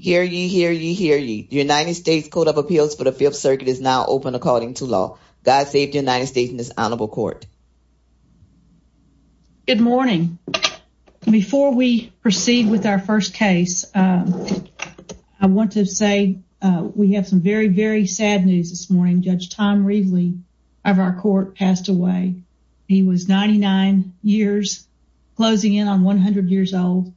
Hear ye, hear ye, hear ye. The United States Code of Appeals for the Fifth Circuit is now open according to law. God save the United States and this honorable court. Good morning. Before we proceed with our first case, I want to say we have some very, very sad news this morning. Judge Tom Reveley of our court passed away. He was 99 years, closing in on 100 years old.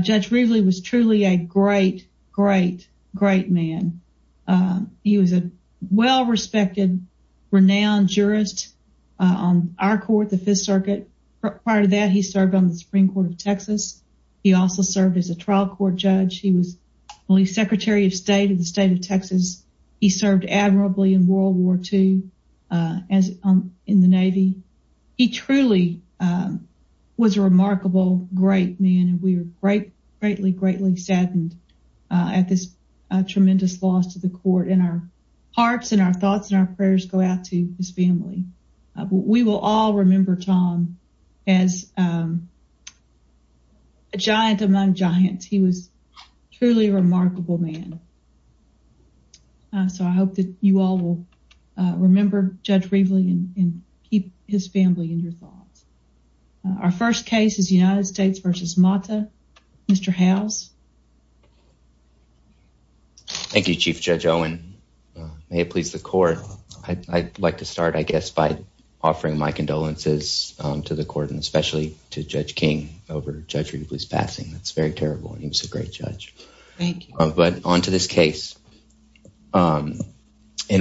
Judge Reveley was truly a great, great, great man. He was a well-respected, renowned jurist on our court, the Fifth Circuit. Prior to that, he served on the Supreme Court of Texas. He also served as a trial court judge. He was the Secretary of State of the state of Texas. He served admirably in World War II in the Navy. He truly was a remarkable, great man, and we are greatly, greatly saddened at this tremendous loss to the court. Our hearts and our thoughts and our prayers go out to his family. We will all remember Tom as a giant among giants. He was truly a remarkable man. So, I hope that you all will remember Judge Reveley and keep his family in your thoughts. Our first case is United States v. Mata. Mr. Howes. Thank you, Chief Judge Owen. May it please the court. I'd like to start, I guess, by to Judge King over Judge Reveley's passing. That's very terrible. He was a great judge. Thank you. But on to this case. In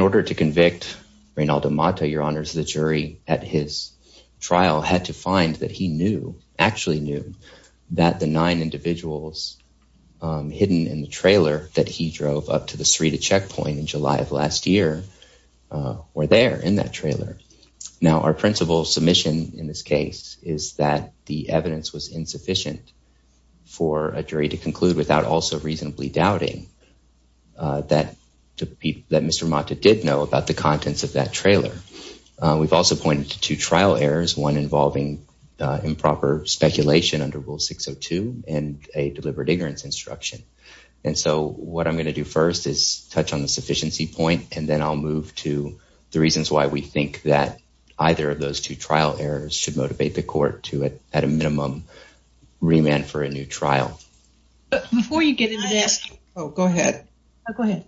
order to convict Reynald Mata, Your Honors, the jury at his trial had to find that he knew, actually knew, that the nine individuals hidden in the trailer that he drove up to the Sarita checkpoint in July of last year were there in that trailer. Now, our principle submission in this case is that the evidence was insufficient for a jury to conclude without also reasonably doubting that Mr. Mata did know about the contents of that trailer. We've also pointed to two trial errors, one involving improper speculation under Rule 602 and a deliberate ignorance instruction. And so, what I'm going to do first is touch on the either of those two trial errors should motivate the court to, at a minimum, remand for a new trial. Before you get into this... Oh, go ahead. Oh, go ahead.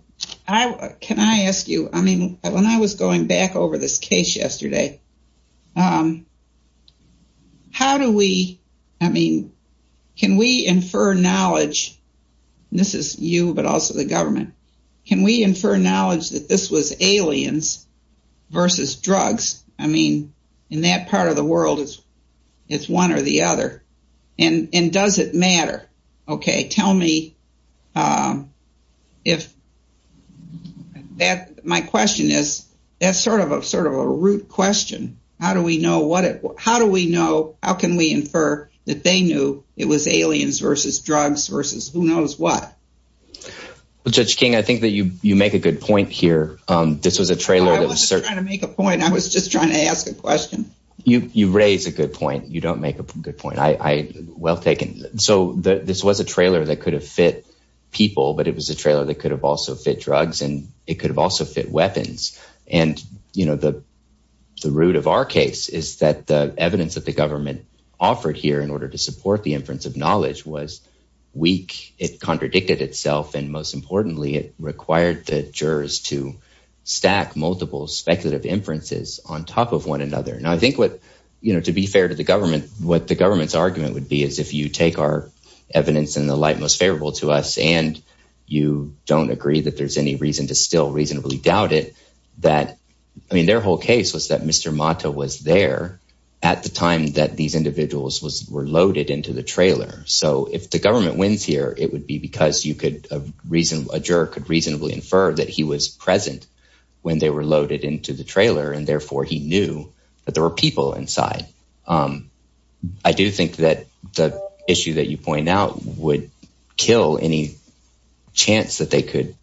Can I ask you, I mean, when I was going back over this case yesterday, how do we, I mean, can we infer knowledge, and this is you but also the government, can we infer knowledge that this was aliens versus drugs? I mean, in that part of the world, it's one or the other. And does it matter? Okay, tell me if that, my question is, that's sort of a sort of a root question. How do we know what it, how do we know, how can we infer that they knew it was aliens versus drugs versus who knows what? Well, Judge King, I think that you make a good point here. This was a trailer... I wasn't trying to make a point. I was just trying to ask a question. You raise a good point. You don't make a good point. Well taken. So, this was a trailer that could have fit people, but it was a trailer that could have also fit drugs, and it could have also fit weapons. And, you know, the root of our case is that the evidence that the government offered here in order to support the inference of knowledge was weak. It contradicted itself, and most importantly, it required the jurors to stack multiple speculative inferences on top of one another. Now, I think what, you know, to be fair to the government, what the government's argument would be is if you take our evidence in the light most favorable to us, and you don't agree that there's any reason to still reasonably doubt it, that, I mean, their whole case was that Mr. Mata was there at the time that these individuals were loaded into the trailer. So, if the government wins here, it would be because a juror could reasonably infer that he was present when they were loaded into the trailer, and therefore he knew that there were people inside. I do think that the issue that you point out would kill any chance that they could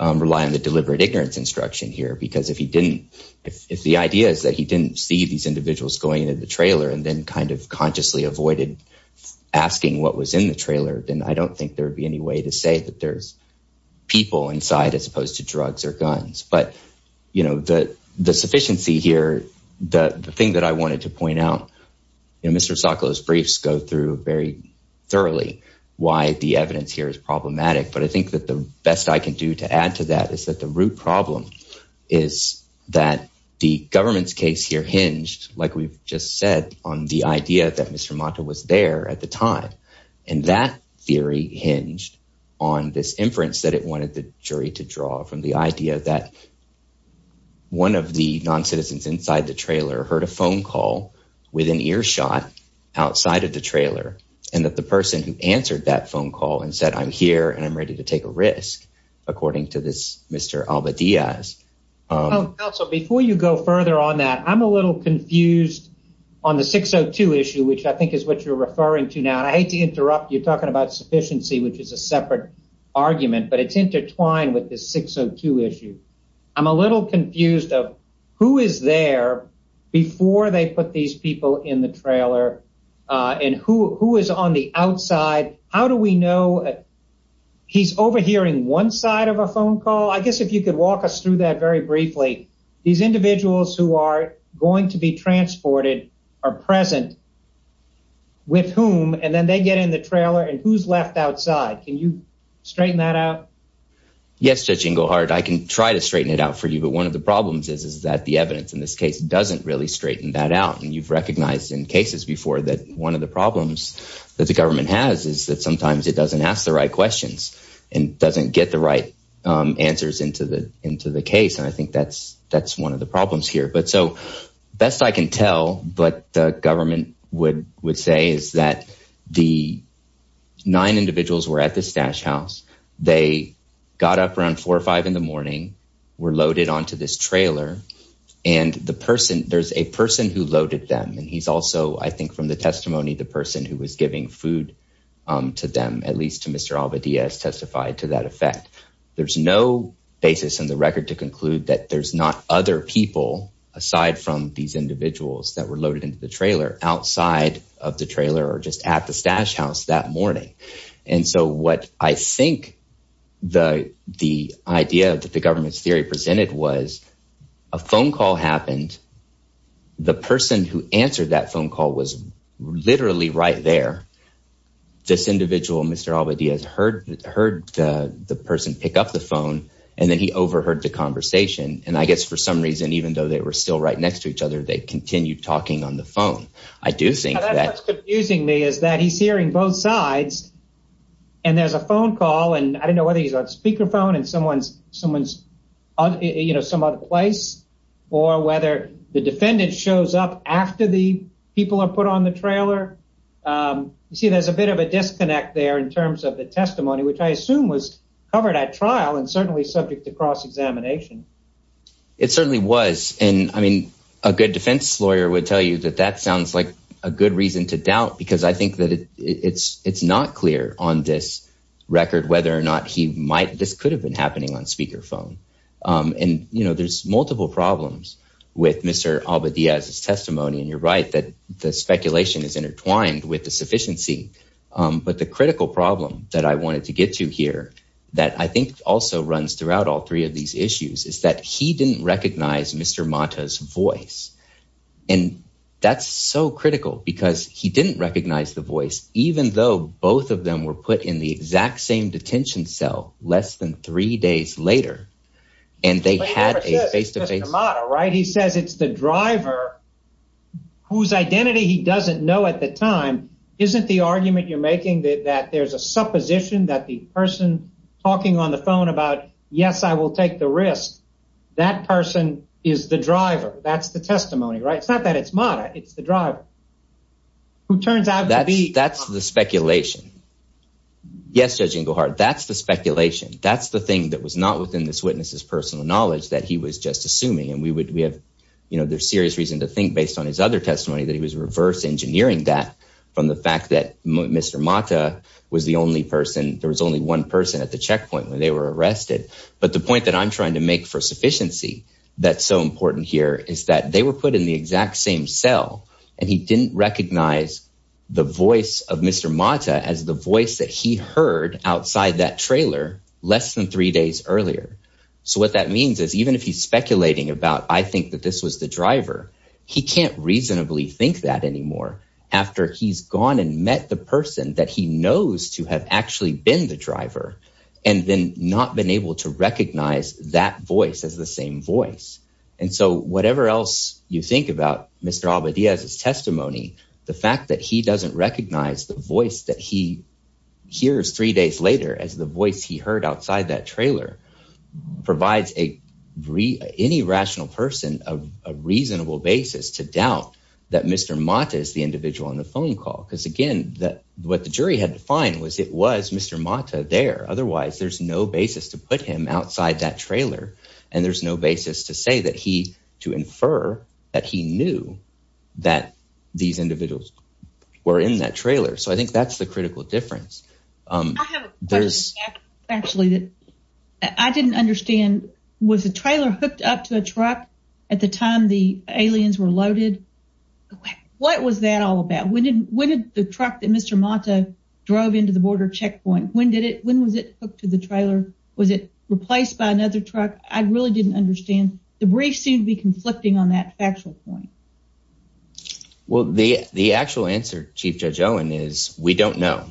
rely on deliberate ignorance instruction here, because if he didn't, if the idea is that he didn't see these individuals going into the trailer and then kind of consciously avoided asking what was in the trailer, then I don't think there would be any way to say that there's people inside as opposed to drugs or guns. But, you know, the sufficiency here, the thing that I wanted to point out, you know, Mr. Sokolow's briefs go through very thoroughly why the evidence here is problematic, but I think that the best I can do to add to that is that the root problem is that the government's case here hinged, like we've just said, on the idea that Mr. Mata was there at the time, and that theory hinged on this inference that it wanted the jury to draw from the idea that one of the non-citizens inside the trailer heard a phone call with an earshot outside of the to take a risk, according to this Mr. Alba Diaz. Council, before you go further on that, I'm a little confused on the 602 issue, which I think is what you're referring to now, and I hate to interrupt. You're talking about sufficiency, which is a separate argument, but it's intertwined with this 602 issue. I'm a little confused of who is there before they put these people in the he's overhearing one side of a phone call. I guess if you could walk us through that very briefly. These individuals who are going to be transported are present with whom, and then they get in the trailer, and who's left outside? Can you straighten that out? Yes, Judge Engelhardt, I can try to straighten it out for you, but one of the problems is that the evidence in this case doesn't really straighten that out, and you've recognized in cases before that one of the problems that the and doesn't get the right answers into the case, and I think that's one of the problems here, but so best I can tell what the government would say is that the nine individuals were at this stash house. They got up around four or five in the morning, were loaded onto this trailer, and there's a person who loaded them, and he's also, I think from the testimony, the person who is giving food to them, at least to Mr. Alvadez, testified to that effect. There's no basis in the record to conclude that there's not other people aside from these individuals that were loaded into the trailer outside of the trailer or just at the stash house that morning, and so what I think the idea that the government's theory presented was a phone call happened. The person who was there, this individual, Mr. Alvadez, heard the person pick up the phone, and then he overheard the conversation, and I guess for some reason, even though they were still right next to each other, they continued talking on the phone. I do think that's confusing me is that he's hearing both sides, and there's a phone call, and I don't know whether he's on speakerphone in someone's some other place or whether the defendant shows up after the people are put on the trailer, you see there's a bit of a disconnect there in terms of the testimony, which I assume was covered at trial and certainly subject to cross-examination. It certainly was, and I mean, a good defense lawyer would tell you that that sounds like a good reason to doubt, because I think that it's not clear on this record whether or not he might, this could have been happening on speakerphone, and you know, there's multiple problems with Mr. Alvadez's testimony, and you're right that the speculation is intertwined with the sufficiency, but the critical problem that I wanted to get to here that I think also runs throughout all three of these issues is that he didn't recognize Mr. Mata's voice, and that's so critical because he didn't recognize the voice even though both of them were put in the exact same detention cell less than three days later, and they had a face-to-face, right? He says it's the driver whose identity he doesn't know at the time, isn't the argument you're making that there's a supposition that the person talking on the phone about, yes, I will take the risk, that person is the driver, that's the testimony, right? It's not that it's Mata, it's the driver who turns out to be, that's the speculation. Yes, Judge Ingleheart, that's the speculation, that's the thing that was not within this witness's personal knowledge that he was just assuming, and we would, we have, you know, there's serious reason to think based on his other testimony that he was reverse engineering that from the fact that Mr. Mata was the only person, there was only one person at the checkpoint when they were arrested, but the point that I'm trying to make for sufficiency that's so important here is that they were put in the exact same cell, and he didn't recognize the voice of Mr. Mata as the voice that he heard outside that trailer less than three days earlier. So what that means is even if he's speculating about, I think that this was the driver, he can't reasonably think that anymore after he's gone and met the person that he knows to have actually been the driver, and then not been able to recognize that voice as the same voice. And so whatever else you think about Mr. Alba Diaz's testimony, the fact that he doesn't recognize the voice that he hears three days later as the voice he heard outside that trailer provides a, any rational person a reasonable basis to doubt that Mr. Mata is the individual on the phone call, because again what the jury had to find was it was Mr. Mata there. Otherwise there's no basis to put him outside that trailer, and there's no basis to say that he, to infer that he knew that these individuals were in that trailer. So I think that's the critical difference. I have a question actually that I didn't understand. Was the trailer hooked up to a truck at the time the Mr. Mata drove into the border checkpoint? When did it, when was it hooked to the trailer? Was it replaced by another truck? I really didn't understand. The brief seemed to be conflicting on that factual point. Well the actual answer Chief Judge Owen is we don't know,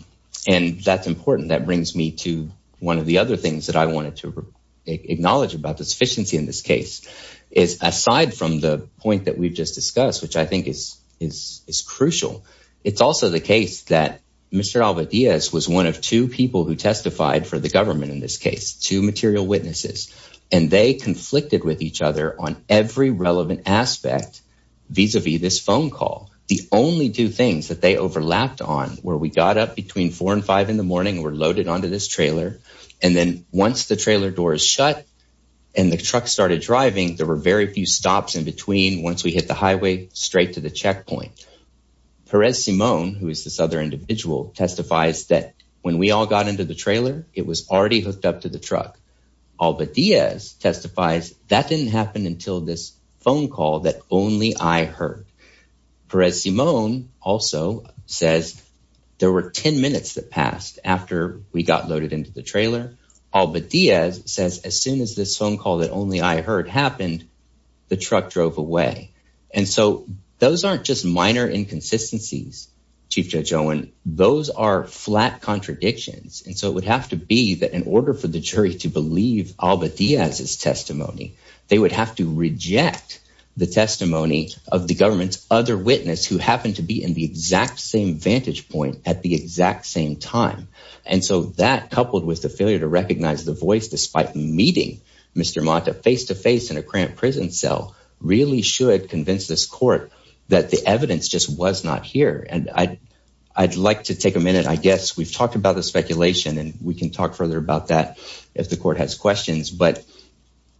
and that's important. That brings me to one of the other things that I wanted to acknowledge about the sufficiency in this case, is aside from the point that we've just discussed, which I think is crucial, it's also the case that Mr. Alva Diaz was one of two people who testified for the government in this case, two material witnesses, and they conflicted with each other on every relevant aspect vis-a-vis this phone call. The only two things that they overlapped on were we got up between four and five in the morning, were loaded onto this trailer, and then once the trailer door is shut and the truck started driving, there were very few stops in between once we hit the highway straight to the checkpoint. Perez Simon, who is this other individual, testifies that when we all got into the trailer, it was already hooked up to the truck. Alva Diaz testifies that didn't happen until this phone call that only I heard. Perez Simon also says there were 10 minutes that passed after we got loaded into the trailer. Alva Diaz says as soon as this phone call that only I heard happened, the truck drove away. And so those aren't just minor inconsistencies, Chief Judge Owen. Those are flat contradictions. And so it would have to be that in order for the jury to believe Alva Diaz's testimony, they would have to reject the testimony of the government's other witness who happened to be in the exact same vantage point at the exact same time. And so that, face-to-face in a cramped prison cell really should convince this court that the evidence just was not here. And I'd like to take a minute, I guess we've talked about the speculation and we can talk further about that if the court has questions, but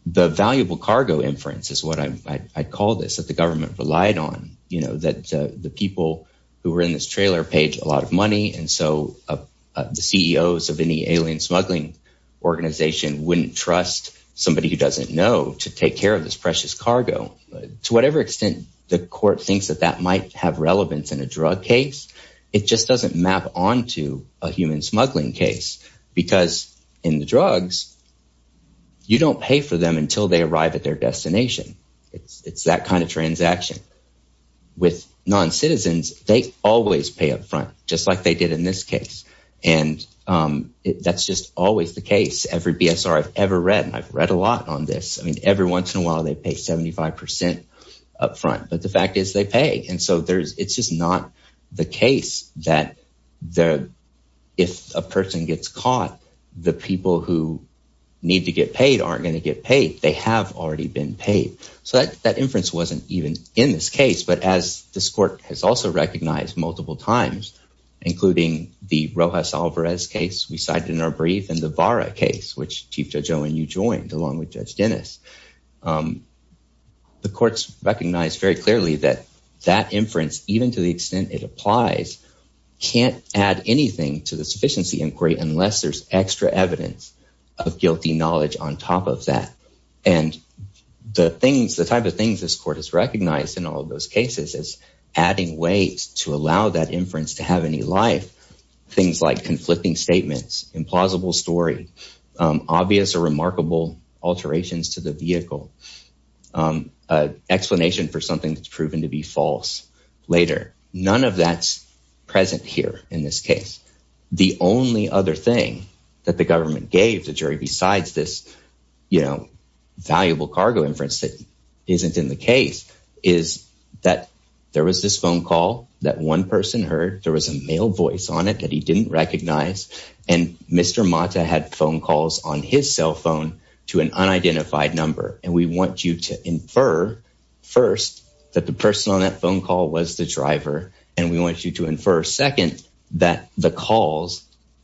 the valuable cargo inference is what I call this, that the government relied on, you know, that the people who were in this trailer paid a lot of money. And so the CEOs of any alien smuggling organization wouldn't trust somebody who doesn't know to take care of this precious cargo. To whatever extent the court thinks that that might have relevance in a drug case, it just doesn't map onto a human smuggling case. Because in the drugs, you don't pay for them until they arrive at their destination. It's that kind of transaction. With non-citizens, they always pay up front, just like they did in this case. And that's just always the case. Every BSR I've ever read, and I've read a lot on this, I mean, every once in a while, they pay 75% up front, but the fact is they pay. And so there's, it's just not the case that if a person gets caught, the people who need to get paid aren't going to get paid. They have already been paid. So that inference wasn't even in this case, but as this case, we cited in our brief and the VARA case, which Chief Judge Owen, you joined along with Judge Dennis. The courts recognized very clearly that that inference, even to the extent it applies, can't add anything to the sufficiency inquiry unless there's extra evidence of guilty knowledge on top of that. And the things, the type of things this court has recognized in all of those cases is adding weight to allow that inference to have any life. Things like conflicting statements, implausible story, obvious or remarkable alterations to the vehicle, an explanation for something that's proven to be false later. None of that's present here in this case. The only other thing that the government gave the jury besides this, you know, valuable that one person heard there was a male voice on it that he didn't recognize. And Mr. Mata had phone calls on his cell phone to an unidentified number. And we want you to infer first that the person on that phone call was the driver. And we want you to infer second, that the calls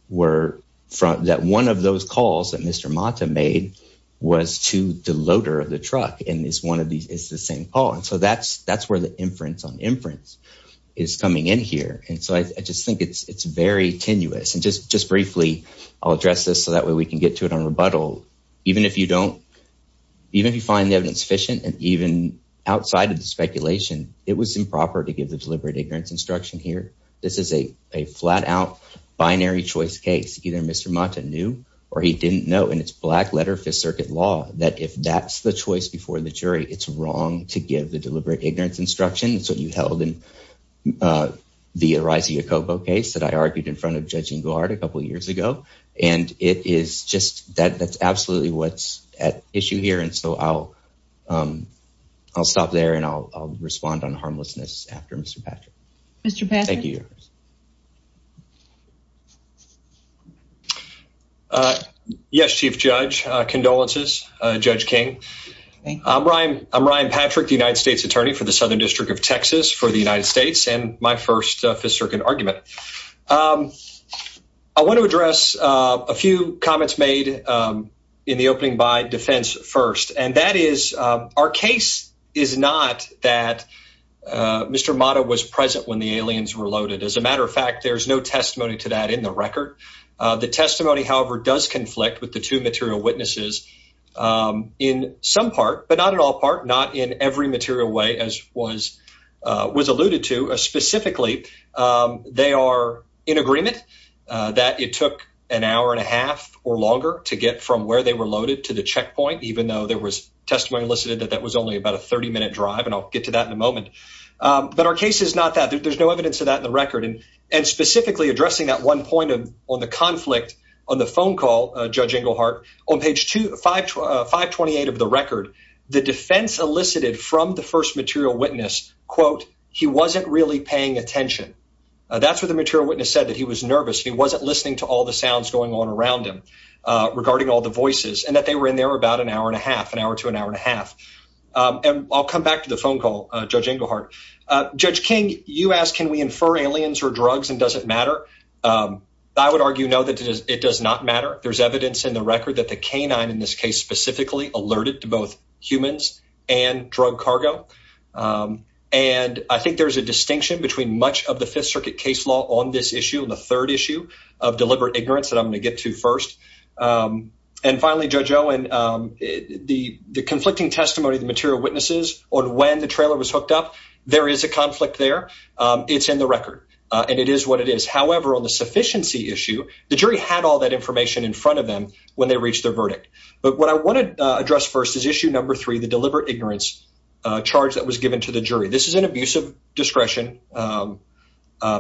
were from that one of those calls that Mr. Mata made was to the loader of the truck. And it's one of these, it's the same call. And so that's where the inference on inference is coming in here. And so I just think it's very tenuous. And just briefly, I'll address this so that way we can get to it on rebuttal. Even if you don't, even if you find the evidence sufficient and even outside of the speculation, it was improper to give the deliberate ignorance instruction here. This is a flat out binary choice case. Either Mr. Mata knew or he didn't know and it's black letter fifth circuit law that if that's the choice before the jury, it's wrong to give the deliberate ignorance instruction. It's what you held in the Ariza Yacobo case that I argued in front of Judge Engelhardt a couple years ago. And it is just that that's absolutely what's at issue here. And so I'll stop there and I'll respond on harmlessness after Mr. Patrick. Mr. Patrick. Thank you. Yes, Chief Judge. Condolences, Judge King. I'm Ryan. I'm Ryan Patrick, the United States attorney for the Southern District of Texas for the United States and my first fifth circuit argument. I want to address a few comments made in the opening by defense first, and that is our case is not that Mr. Mata was present when the aliens were loaded. As a matter of fact, there's no testimony to that in the record. The testimony, however, does conflict with the two material witnesses in some part, but not in all part, not in every material way as was was alluded to. Specifically, they are in agreement that it took an hour and a half or longer to get from where they were loaded to the checkpoint, even though there was testimony listed that that was only about a 30 minute drive. And I'll get to that in a moment. But our case is not that there's no evidence of that in the record and and specifically addressing that one point on the conflict on the phone call, Judge Inglehart on page 255 28 of the record. The defense elicited from the first material witness, quote, He wasn't really paying attention. That's what the material witness said that he was nervous. He wasn't listening to all the sounds going on around him regarding all the voices and that they were in there about an hour and a half, an hour to an hour and a half. And I'll come back to the phone call, Judge Inglehart. Judge King, you ask, can we infer aliens or drugs and doesn't matter? I would argue no, that it does not matter. There's evidence in the record that the canine in this case specifically alerted to both humans and drug cargo. And I think there's a distinction between much of the Fifth Circuit case law on this issue, the third issue of deliberate ignorance that I'm going to get to first. And finally, Judge Owen, the conflicting testimony, the material witnesses on when the trailer was hooked up, there is a conflict there. It's in the record and it is what it is. However, on the sufficiency issue, the jury had all that information in front of them when they reached their verdict. But what I want to address first is issue number three, the deliberate ignorance charge that was given to the jury. This is an abusive discretion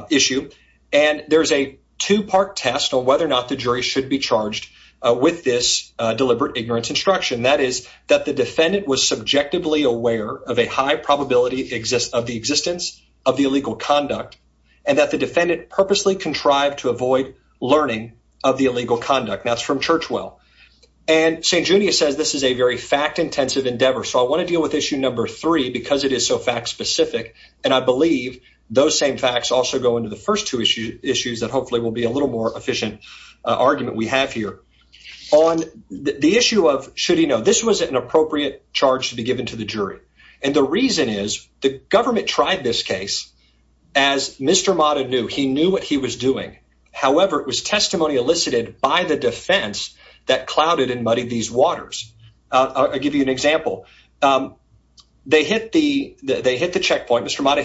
issue. And there's a two part test on whether or not the jury should be charged with this deliberate ignorance instruction. That is that the defendant was subjectively aware of a high probability of the existence of the illegal conduct and that the defendant purposely contrived to avoid learning of the illegal conduct. That's from Churchwell. And St. Junius says this is a very fact intensive endeavor. So I want to deal with issue number three because it is so fact specific. And I believe those same facts also go into the first two issues that hopefully will be a little more efficient argument we have here. On the issue of should he know, this was an appropriate charge to be given to the jury. And the reason is the government tried this case as Mr. Mata knew. He knew what he was doing. However, it was testimony elicited by the defense that clouded and muddied these waters. I'll give you an example. They hit the checkpoint. Mr. Mata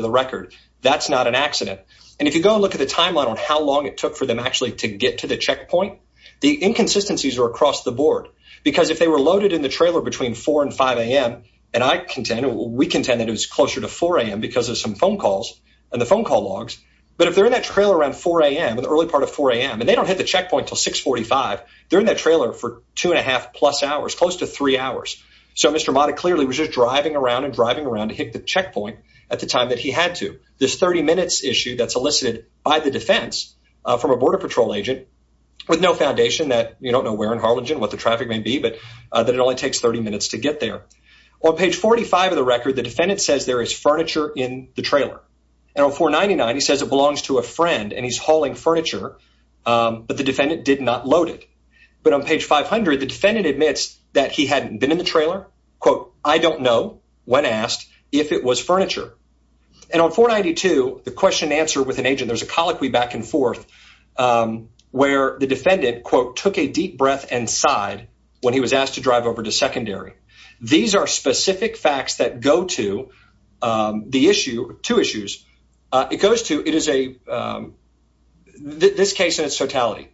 the record. That's not an accident. And if you go and look at the timeline on how long it took for them actually to get to the checkpoint, the inconsistencies are across the board. Because if they were loaded in the trailer between four and five a.m. and I contend, we contend that it was closer to four a.m. because of some phone calls and the phone call logs. But if they're in that trailer around four a.m. in the early part of four a.m. and they don't hit the checkpoint till six forty five, they're in that trailer for two and a half plus hours, close to three hours. So Mr. Mata clearly was just driving around and driving around to hit the checkpoint at the time that he had to. This 30 minutes issue that's elicited by the defense from a Border Patrol agent with no foundation that you don't know where in Harlingen, what the traffic may be, but that it only takes 30 minutes to get there. On page 45 of the record, the defendant says there is furniture in the trailer. And on 499, he says it belongs to a friend and he's hauling furniture. But the defendant did not load it. But on page 500, the defendant admits that he hadn't been in the trailer. Quote, I don't know when asked if it was furniture. And on 492, the question answered with an agent. There's a colloquy back and forth where the defendant, quote, took a deep breath and sighed when he was asked to drive over to secondary. These are specific facts that go to the issue, two issues. It goes to it is a this case in its totality.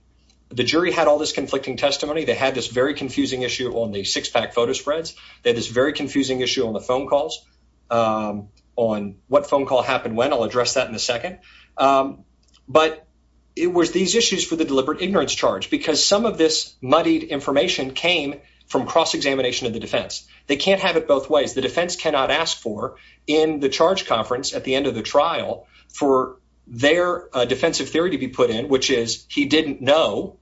The jury had all this conflicting testimony. They had this very confusing issue on the six pack photo spreads that is very confusing issue on the phone calls on what phone call happened when I'll address that in a second. But it was these issues for the deliberate ignorance charge because some of this muddied information came from cross-examination of the defense. They can't have it both ways. The defense cannot ask for in the charge conference at the end of the trial for their defensive theory to be put in, which is he didn't know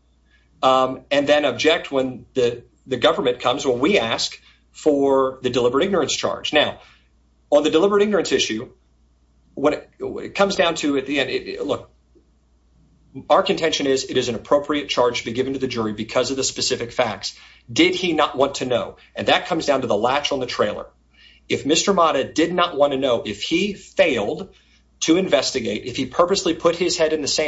and then object when the government comes when we ask for the deliberate ignorance charge. Now, on the deliberate ignorance issue, what it comes down to at the end, look, our contention is it is an appropriate charge to be given to the jury because of the specific facts. Did he not want to know? And that comes down to the latch on the trailer. If Mr. Mata did not want to know if he failed to investigate, if he purposely put his head in the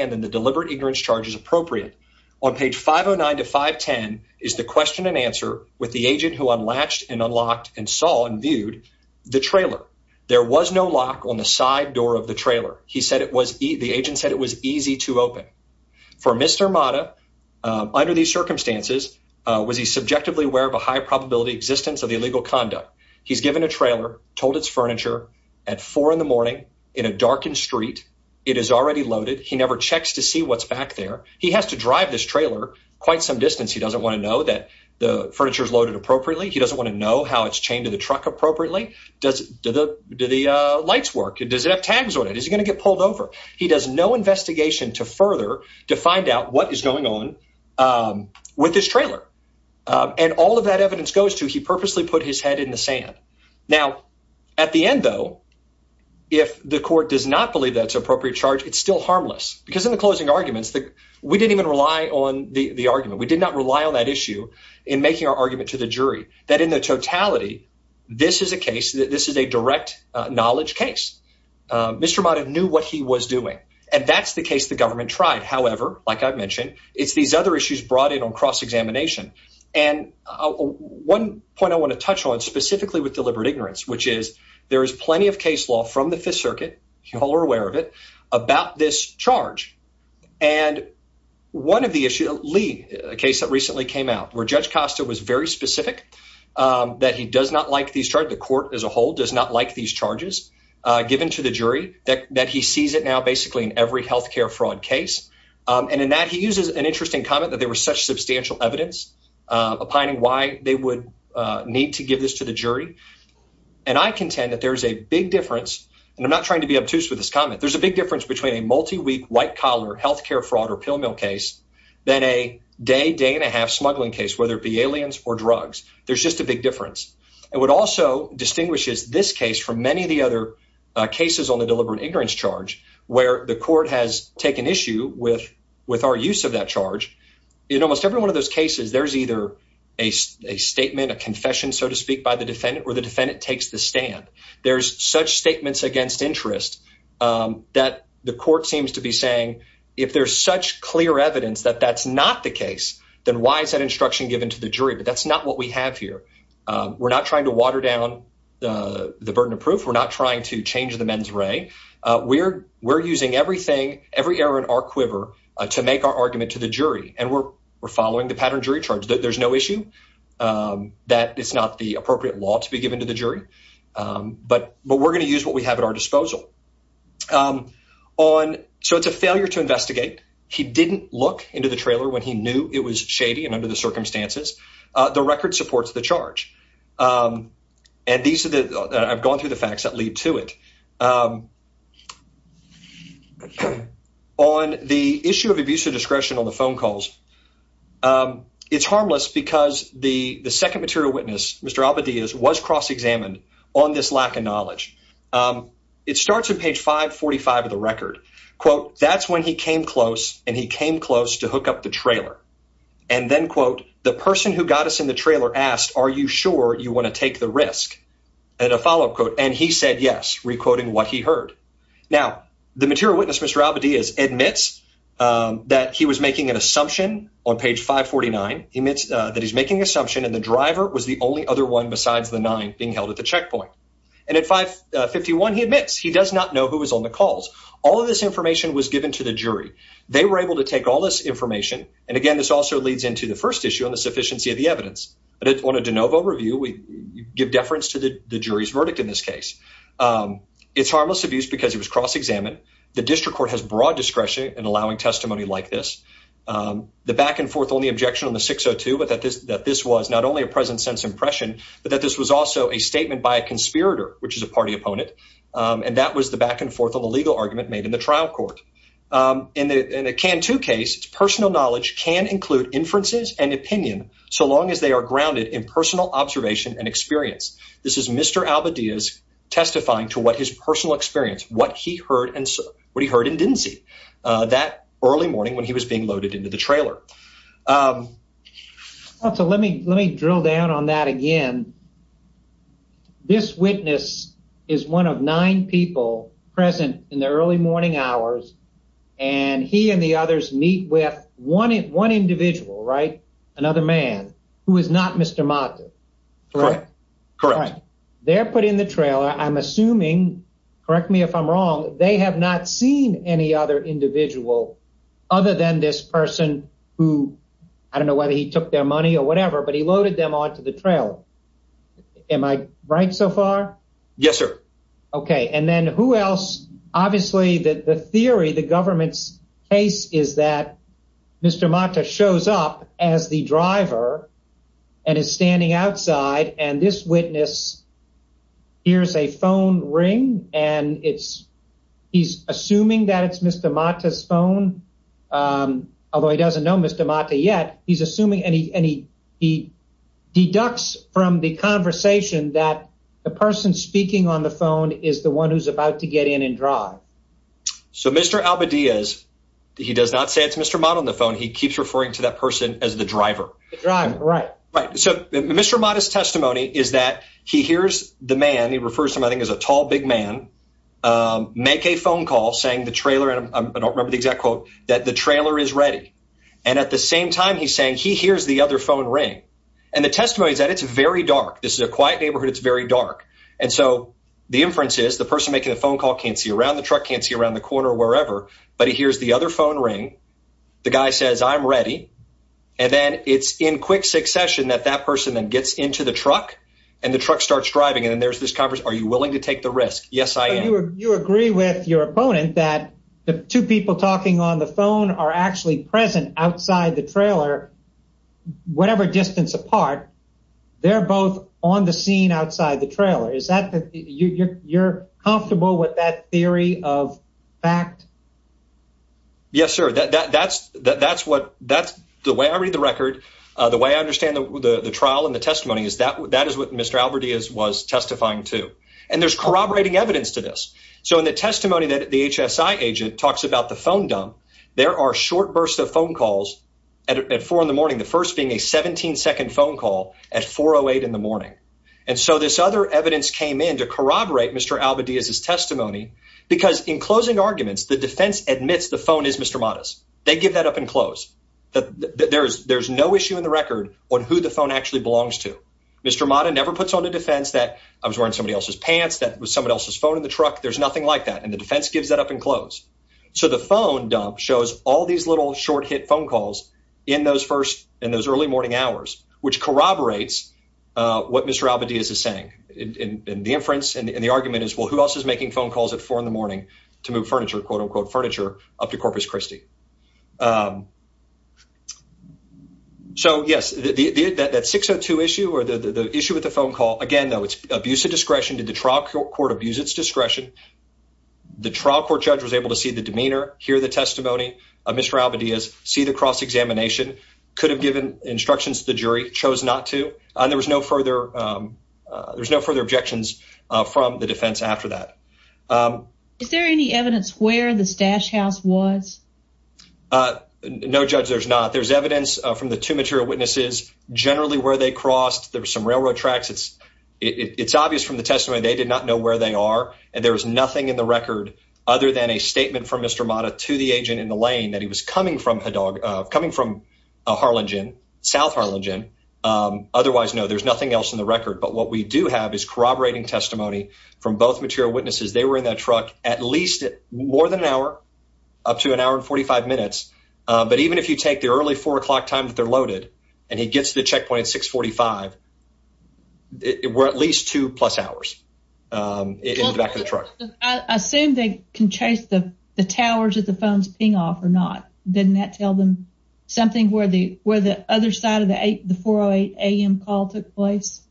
answer with the agent who unlatched and unlocked and saw and viewed the trailer, there was no lock on the side door of the trailer. He said it was the agent said it was easy to open for Mr. Mata. Under these circumstances, was he subjectively aware of a high probability existence of the illegal conduct? He's given a trailer, told its furniture at four in the morning in a darkened street. It is already loaded. He never checks to see what's back there. He has to drive this the furniture is loaded appropriately. He doesn't want to know how it's chained to the truck appropriately. Does do the do the lights work? Does it have tags on it? Is he going to get pulled over? He does no investigation to further to find out what is going on with this trailer. And all of that evidence goes to he purposely put his head in the sand. Now, at the end, though, if the court does not believe that's appropriate charge, it's still harmless because in the closing arguments that we didn't even rely on the argument, we did not rely on that issue in making our argument to the jury that in the totality, this is a case that this is a direct knowledge case. Mr. Mata knew what he was doing, and that's the case the government tried. However, like I mentioned, it's these other issues brought in on cross examination. And one point I want to touch on specifically with deliberate ignorance, which is there is plenty of case law from the Fifth Circuit. You all are aware of it about this charge. And one of the issue, Lee, a case that recently came out where Judge Costa was very specific that he does not like these tried. The court as a whole does not like these charges given to the jury that he sees it now basically in every health care fraud case. And in that he uses an interesting comment that there was such substantial evidence opining why they would need to give this to the jury. And I contend that there is a big difference. And I'm not trying to be obtuse with this comment. There's a big difference between a multi week white collar health care fraud or pill mill case than a day, day and a half smuggling case, whether it be aliens or drugs. There's just a big difference. And what also distinguishes this case from many of the other cases on the deliberate ignorance charge where the court has taken issue with with our use of that charge in almost every one of those cases, there's either a statement, a confession, so to speak, by the defendant or the defendant takes the stand. There's such statements against interest that the court seems to be saying if there's such clear evidence that that's not the case, then why is that instruction given to the jury? But that's not what we have here. We're not trying to water down the burden of proof. We're not trying to change the men's ray. We're we're using everything, every error in our quiver to make our argument to the jury. And we're we're following the pattern jury charge. There's no issue that it's not the we're going to use what we have at our disposal on. So it's a failure to investigate. He didn't look into the trailer when he knew it was shady. And under the circumstances, the record supports the charge. And these are the I've gone through the facts that lead to it. On the issue of abuse of discretion on the phone calls, it's harmless because the the second material witness, Mr. Abadieh, was cross examined on this lack of knowledge. It starts at page 545 of the record. Quote, that's when he came close and he came close to hook up the trailer. And then, quote, the person who got us in the trailer asked, are you sure you want to take the risk? And a follow up quote. And he said, yes, recoding what he heard. Now, the material witness, Mr. Abadieh, is admits that he was making an assumption on page 549. He admits that he's the only other one besides the nine being held at the checkpoint. And at 551, he admits he does not know who was on the calls. All of this information was given to the jury. They were able to take all this information. And again, this also leads into the first issue on the sufficiency of the evidence. But on a de novo review, we give deference to the jury's verdict in this case. It's harmless abuse because it was cross examined. The district court has broad discretion in allowing testimony like this. The back and forth on the objection on the 602, that this was not only a present sense impression, but that this was also a statement by a conspirator, which is a party opponent. And that was the back and forth on the legal argument made in the trial court. In a can two case, personal knowledge can include inferences and opinion so long as they are grounded in personal observation and experience. This is Mr. Abadieh testifying to what his personal experience, what he heard and what he heard and didn't see that early morning when he was being loaded into the trailer. Also, let me let me drill down on that again. This witness is one of nine people present in the early morning hours, and he and the others meet with one one individual, right? Another man who is not Mr. Martin. Correct. Correct. They're putting the trailer. I'm assuming. Correct me if I'm wrong. They have not seen any other individual other than this person who I don't know whether he their money or whatever, but he loaded them onto the trail. Am I right so far? Yes, sir. OK. And then who else? Obviously, the theory, the government's case is that Mr. Mata shows up as the driver and is standing outside. And this witness hears a phone ring and it's he's assuming that it's Mr. Mata's phone, although he doesn't know Mr. Mata yet. He's assuming any any he deducts from the conversation that the person speaking on the phone is the one who's about to get in and drive. So, Mr. Abadieh, as he does not say it's Mr. Mata on the phone, he keeps referring to that person as the driver driving. Right. Right. So Mr. Mata's testimony is that he hears the man. He refers to him, I think, as a tall, big man make a phone call saying the trailer. And I don't remember the exact quote that the trailer is ready. And at the same time, he's saying he hears the other phone ring and the testimony that it's very dark. This is a quiet neighborhood. It's very dark. And so the inferences, the person making the phone call can't see around the truck, can't see around the corner or wherever. But he hears the other phone ring. The guy says, I'm ready. And then it's in quick succession that that person then gets into the truck and the truck starts driving. And then there's this conference. Are you willing to take the risk? Yes, I am. You agree with your opponent that the two people talking on the phone are actually present outside the trailer, whatever distance apart, they're both on the scene outside the trailer. Is that you're comfortable with that theory of fact? Yes, sir. That's that's what that's the way I read the record, the way I understand the trial and the testimony is that that is what Mr. Alvarez was testifying to. And there's corroborating evidence to this. So in the testimony that the HSI agent talks about the phone dump, there are short bursts of phone calls at four in the morning, the first being a 17 second phone call at four or eight in the morning. And so this other evidence came in to corroborate Mr. Alvarez his testimony, because in closing arguments, the defense admits the phone is Mr. Mattis. They give that up and close that there's there's no issue in the record on who the phone actually belongs to. Mr. Mattis never puts on a defense that I was wearing somebody else's pants. That was somebody else's phone in the truck. There's nothing like that. And the defense gives that up and close. So the phone dump shows all these little short hit phone calls in those first in those early morning hours, which corroborates what Mr. Alvarez is saying in the inference. And the argument is, well, who else is making phone calls at four in the morning to move furniture, quote unquote, furniture up to Corpus Christi? So, yes, that 602 issue or the issue with the phone call again, though, it's abuse of discretion to the trial court abuse its discretion. The trial court judge was able to see the demeanor, hear the testimony of Mr. Alvarez, see the cross examination, could have given instructions to the jury, chose not to. And there was no further there's no further objections from the defense after that. Is there any evidence where the stash house was? No, judge, there's not. There's evidence from the two material witnesses generally where they crossed. There were some railroad tracks. It's it's obvious from the testimony they did not know where they are. And there was nothing in the record other than a statement from Mr. Mata to the agent in the lane that he was coming from a dog coming from Harlingen, South Harlingen. Otherwise, no, there's nothing else in the record. But what we do have is corroborating testimony from both material witnesses. They were in that truck at least more than an hour, up to an hour and 45 minutes. But even if you take the early four o'clock time that they're loaded and he gets to the checkpoint at six forty five, we're at least two plus hours in the back of the truck. I assume they can chase the towers of the phones being off or not. Didn't that tell them something where the where the other side the four o'clock a.m. call took place?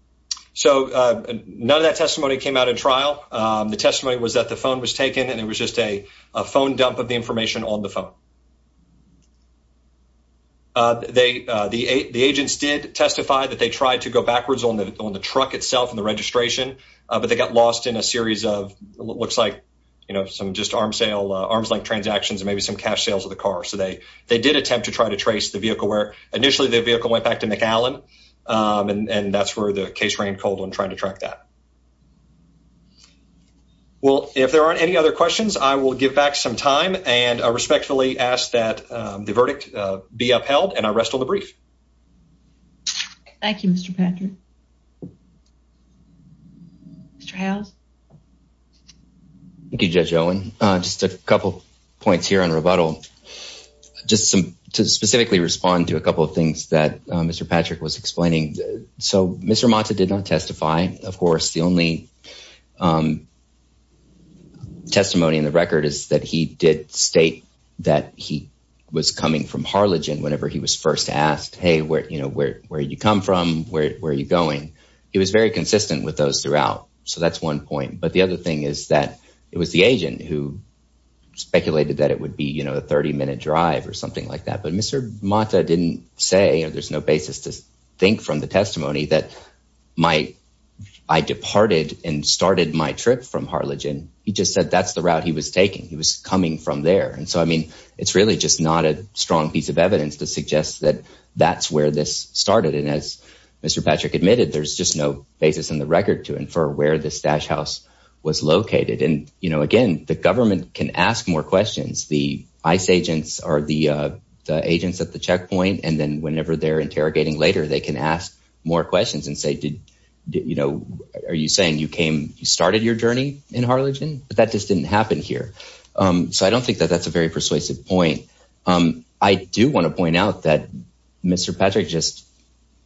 So none of that testimony came out in trial. The testimony was that the phone was taken and it was just a phone dump of the information on the phone. They the the agents did testify that they tried to go backwards on the on the truck itself and the registration, but they got lost in a series of what looks like, you know, some just arms sale, arms like transactions and maybe some cash sales of the car. So they they did attempt to try to McAllen and that's where the case ran cold on trying to track that. Well, if there aren't any other questions, I will give back some time and I respectfully ask that the verdict be upheld and I rest on the brief. Thank you, Mr. Patrick. Mr. House. Thank you, Judge Owen. Just a couple points here on rebuttal. Just some to specifically respond to a couple of things that Mr. Patrick was explaining. So Mr. Monta did not testify. Of course, the only testimony in the record is that he did state that he was coming from Harlingen whenever he was first asked, hey, where you know where where you come from, where are you going? He was very consistent with those throughout. So that's one point. But the other thing is that it was the agent who speculated that it would be, you know, a 30 minute drive or something like that. But Mr. Monta didn't say there's no basis to think from the testimony that my I departed and started my trip from Harlingen. He just said that's the route he was taking. He was coming from there. And so, I mean, it's really just not a strong piece of evidence to suggest that that's where this started. And as Mr. Patrick admitted, there's just no basis in the record to infer where this stash house was located. And, you know, again, the government can ask more questions. The ICE agents are the agents at the checkpoint. And then whenever they're interrogating later, they can ask more questions and say, did you know, are you saying you came, you started your journey in Harlingen? But that just didn't happen here. So I don't think that that's a very persuasive point. I do want to point out that Mr. Patrick just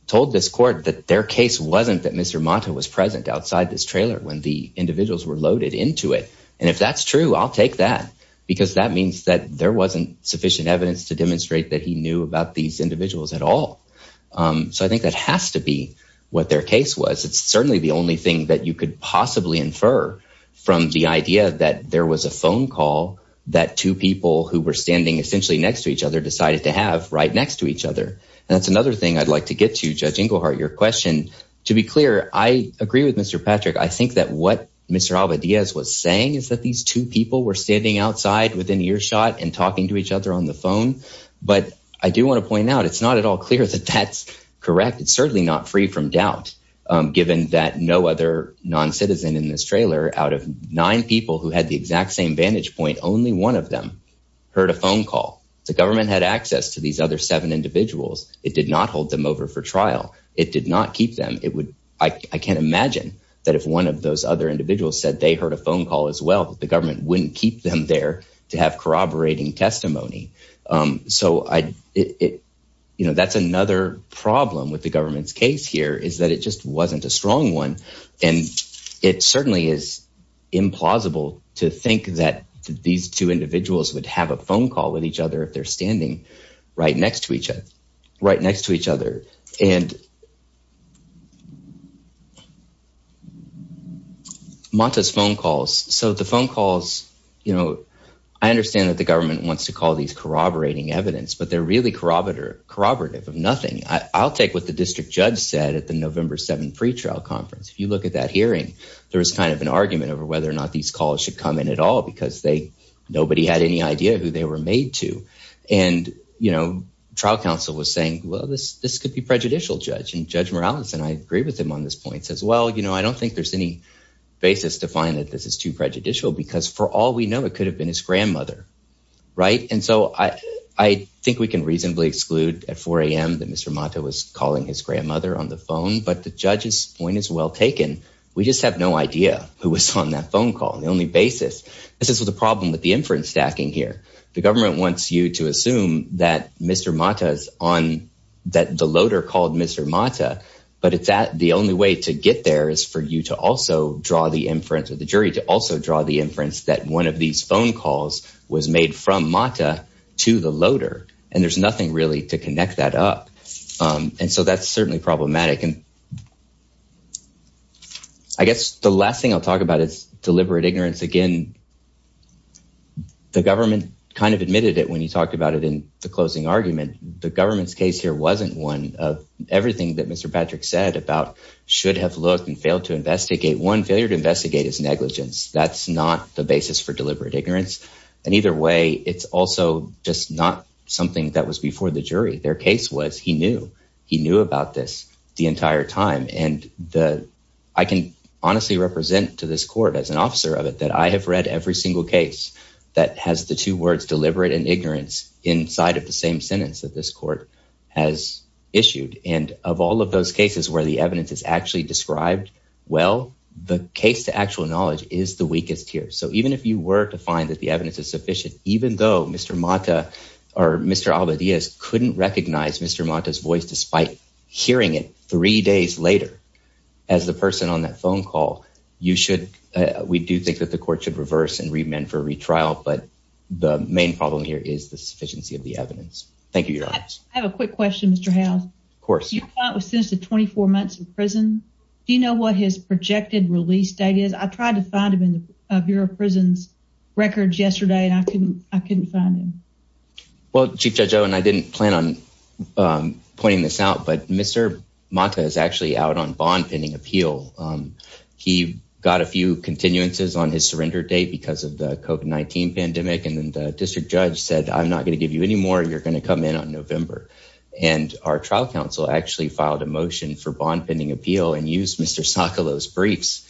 told this court that their case wasn't that Mr. Monta was present outside this trailer when the individuals were loaded into it. And if that's true, I'll take that because that means that there wasn't sufficient evidence to demonstrate that he knew about these individuals at all. So I think that has to be what their case was. It's certainly the only thing that you could possibly infer from the idea that there was a phone call that two people who were standing essentially next to each other decided to have right next to each other. And that's another thing I'd like to get to, Judge Inglehart, your question. To be clear, I agree with Mr. Patrick. I think that what Mr. Alva Diaz was saying is that these two people were standing outside within earshot and talking to each other on the phone. But I do want to point out, it's not at all clear that that's correct. It's certainly not free from doubt, given that no other non-citizen in this trailer out of nine people who had the exact same vantage point, only one of them heard a phone call. The government had access to these other seven individuals. It did not hold them over for trial. It did not keep them. I can't imagine that if one of those other individuals said they heard a phone call as well, that the government wouldn't keep them there to have corroborating testimony. So that's another problem with the government's case here, is that it just wasn't a strong one. And it certainly is implausible to think that these two individuals would have a phone call with each other if they're standing right next to each other. Monta's phone calls. So the phone calls, you know, I understand that the government wants to call these corroborating evidence, but they're really corroborative of nothing. I'll take what the district judge said at the November 7th pretrial conference. If you look at that hearing, there was kind of an argument over whether or not these calls should come in at all because nobody had any idea who they were made to. And, you know, trial counsel was saying, well, this could be prejudicial, Judge. And Judge Morales, and I agree with him on this point, says, well, you know, I don't think there's any basis to find that this is too prejudicial because for all we know, it could have been his grandmother. Right. And so I think we can reasonably exclude at 4 a.m. that Mr. Monta was calling his grandmother on the phone. But the judge's point is well taken. We just have no idea who was on that phone call. The only basis is the problem with the inference stacking here. The government wants you to assume that Mr. Monta is on that the loader called Mr. Monta. But it's that the only way to get there is for you to also draw the inference of the jury to also draw the inference that one of these phone calls was made from Monta to the loader. And there's nothing really to connect that up. And so that's certainly problematic. And. I guess the last thing I'll talk about is deliberate ignorance again. The government kind of admitted it when he talked about it in the closing argument. The government's case here wasn't one of everything that Mr. Patrick said about should have looked and failed to investigate one failure to investigate his negligence. That's not the basis for deliberate ignorance. And either way, it's also just not something that was before the jury. Their case was he knew he knew about this the entire time. And I can honestly represent to this court as an officer of it that I have read every single case that has the two words deliberate and ignorance inside of the same sentence that this court has issued. And of all of those cases where the evidence is actually described well, the case to actual knowledge is the weakest here. So even if you were to find that the evidence is sufficient, even though Mr. Monta or Mr. Alvarez couldn't recognize Mr. Monta's voice, despite hearing it three days later as the person on that phone call, you should. We do think that the court should reverse and remand for retrial. But the main problem here is the sufficiency of the evidence. Thank you. I have a quick question, Mr. House. Of course, it was since the 24 months in prison. Do you know what his projected release date is? I tried to find him in the Bureau of Prisons records yesterday, and I couldn't I couldn't Well, Chief Judge Owen, I didn't plan on pointing this out. But Mr. Monta is actually out on bond pending appeal. He got a few continuances on his surrender date because of the COVID-19 pandemic. And then the district judge said, I'm not going to give you any more. You're going to come in on November. And our trial counsel actually filed a motion for bond pending appeal and used Mr. Sakalo's briefs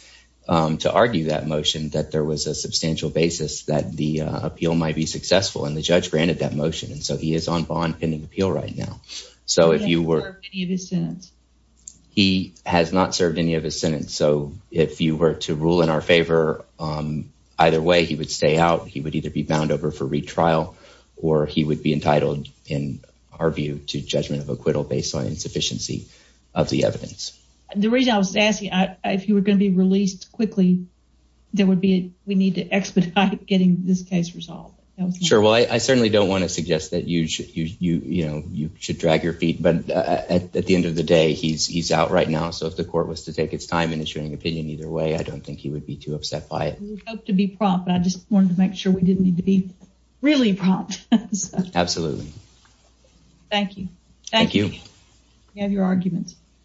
to argue that motion that there was a substantial basis that the appeal might be successful. And the judge granted that motion. And so he is on bond pending appeal right now. So if you were any of his sentence, he has not served any of his sentence. So if you were to rule in our favor, either way, he would stay out. He would either be bound over for retrial or he would be entitled in our view to judgment of acquittal based on insufficiency of the evidence. The reason I was asking if you were going to be released quickly, there would be, we need to expedite getting this case resolved. Sure. Well, I certainly don't want to suggest that you should drag your feet. But at the end of the day, he's out right now. So if the court was to take its time in issuing opinion either way, I don't think he would be too upset by it. We hope to be prompt, but I just wanted to make sure we didn't need to be really prompt. Absolutely. Thank you. Thank you. We have your arguments.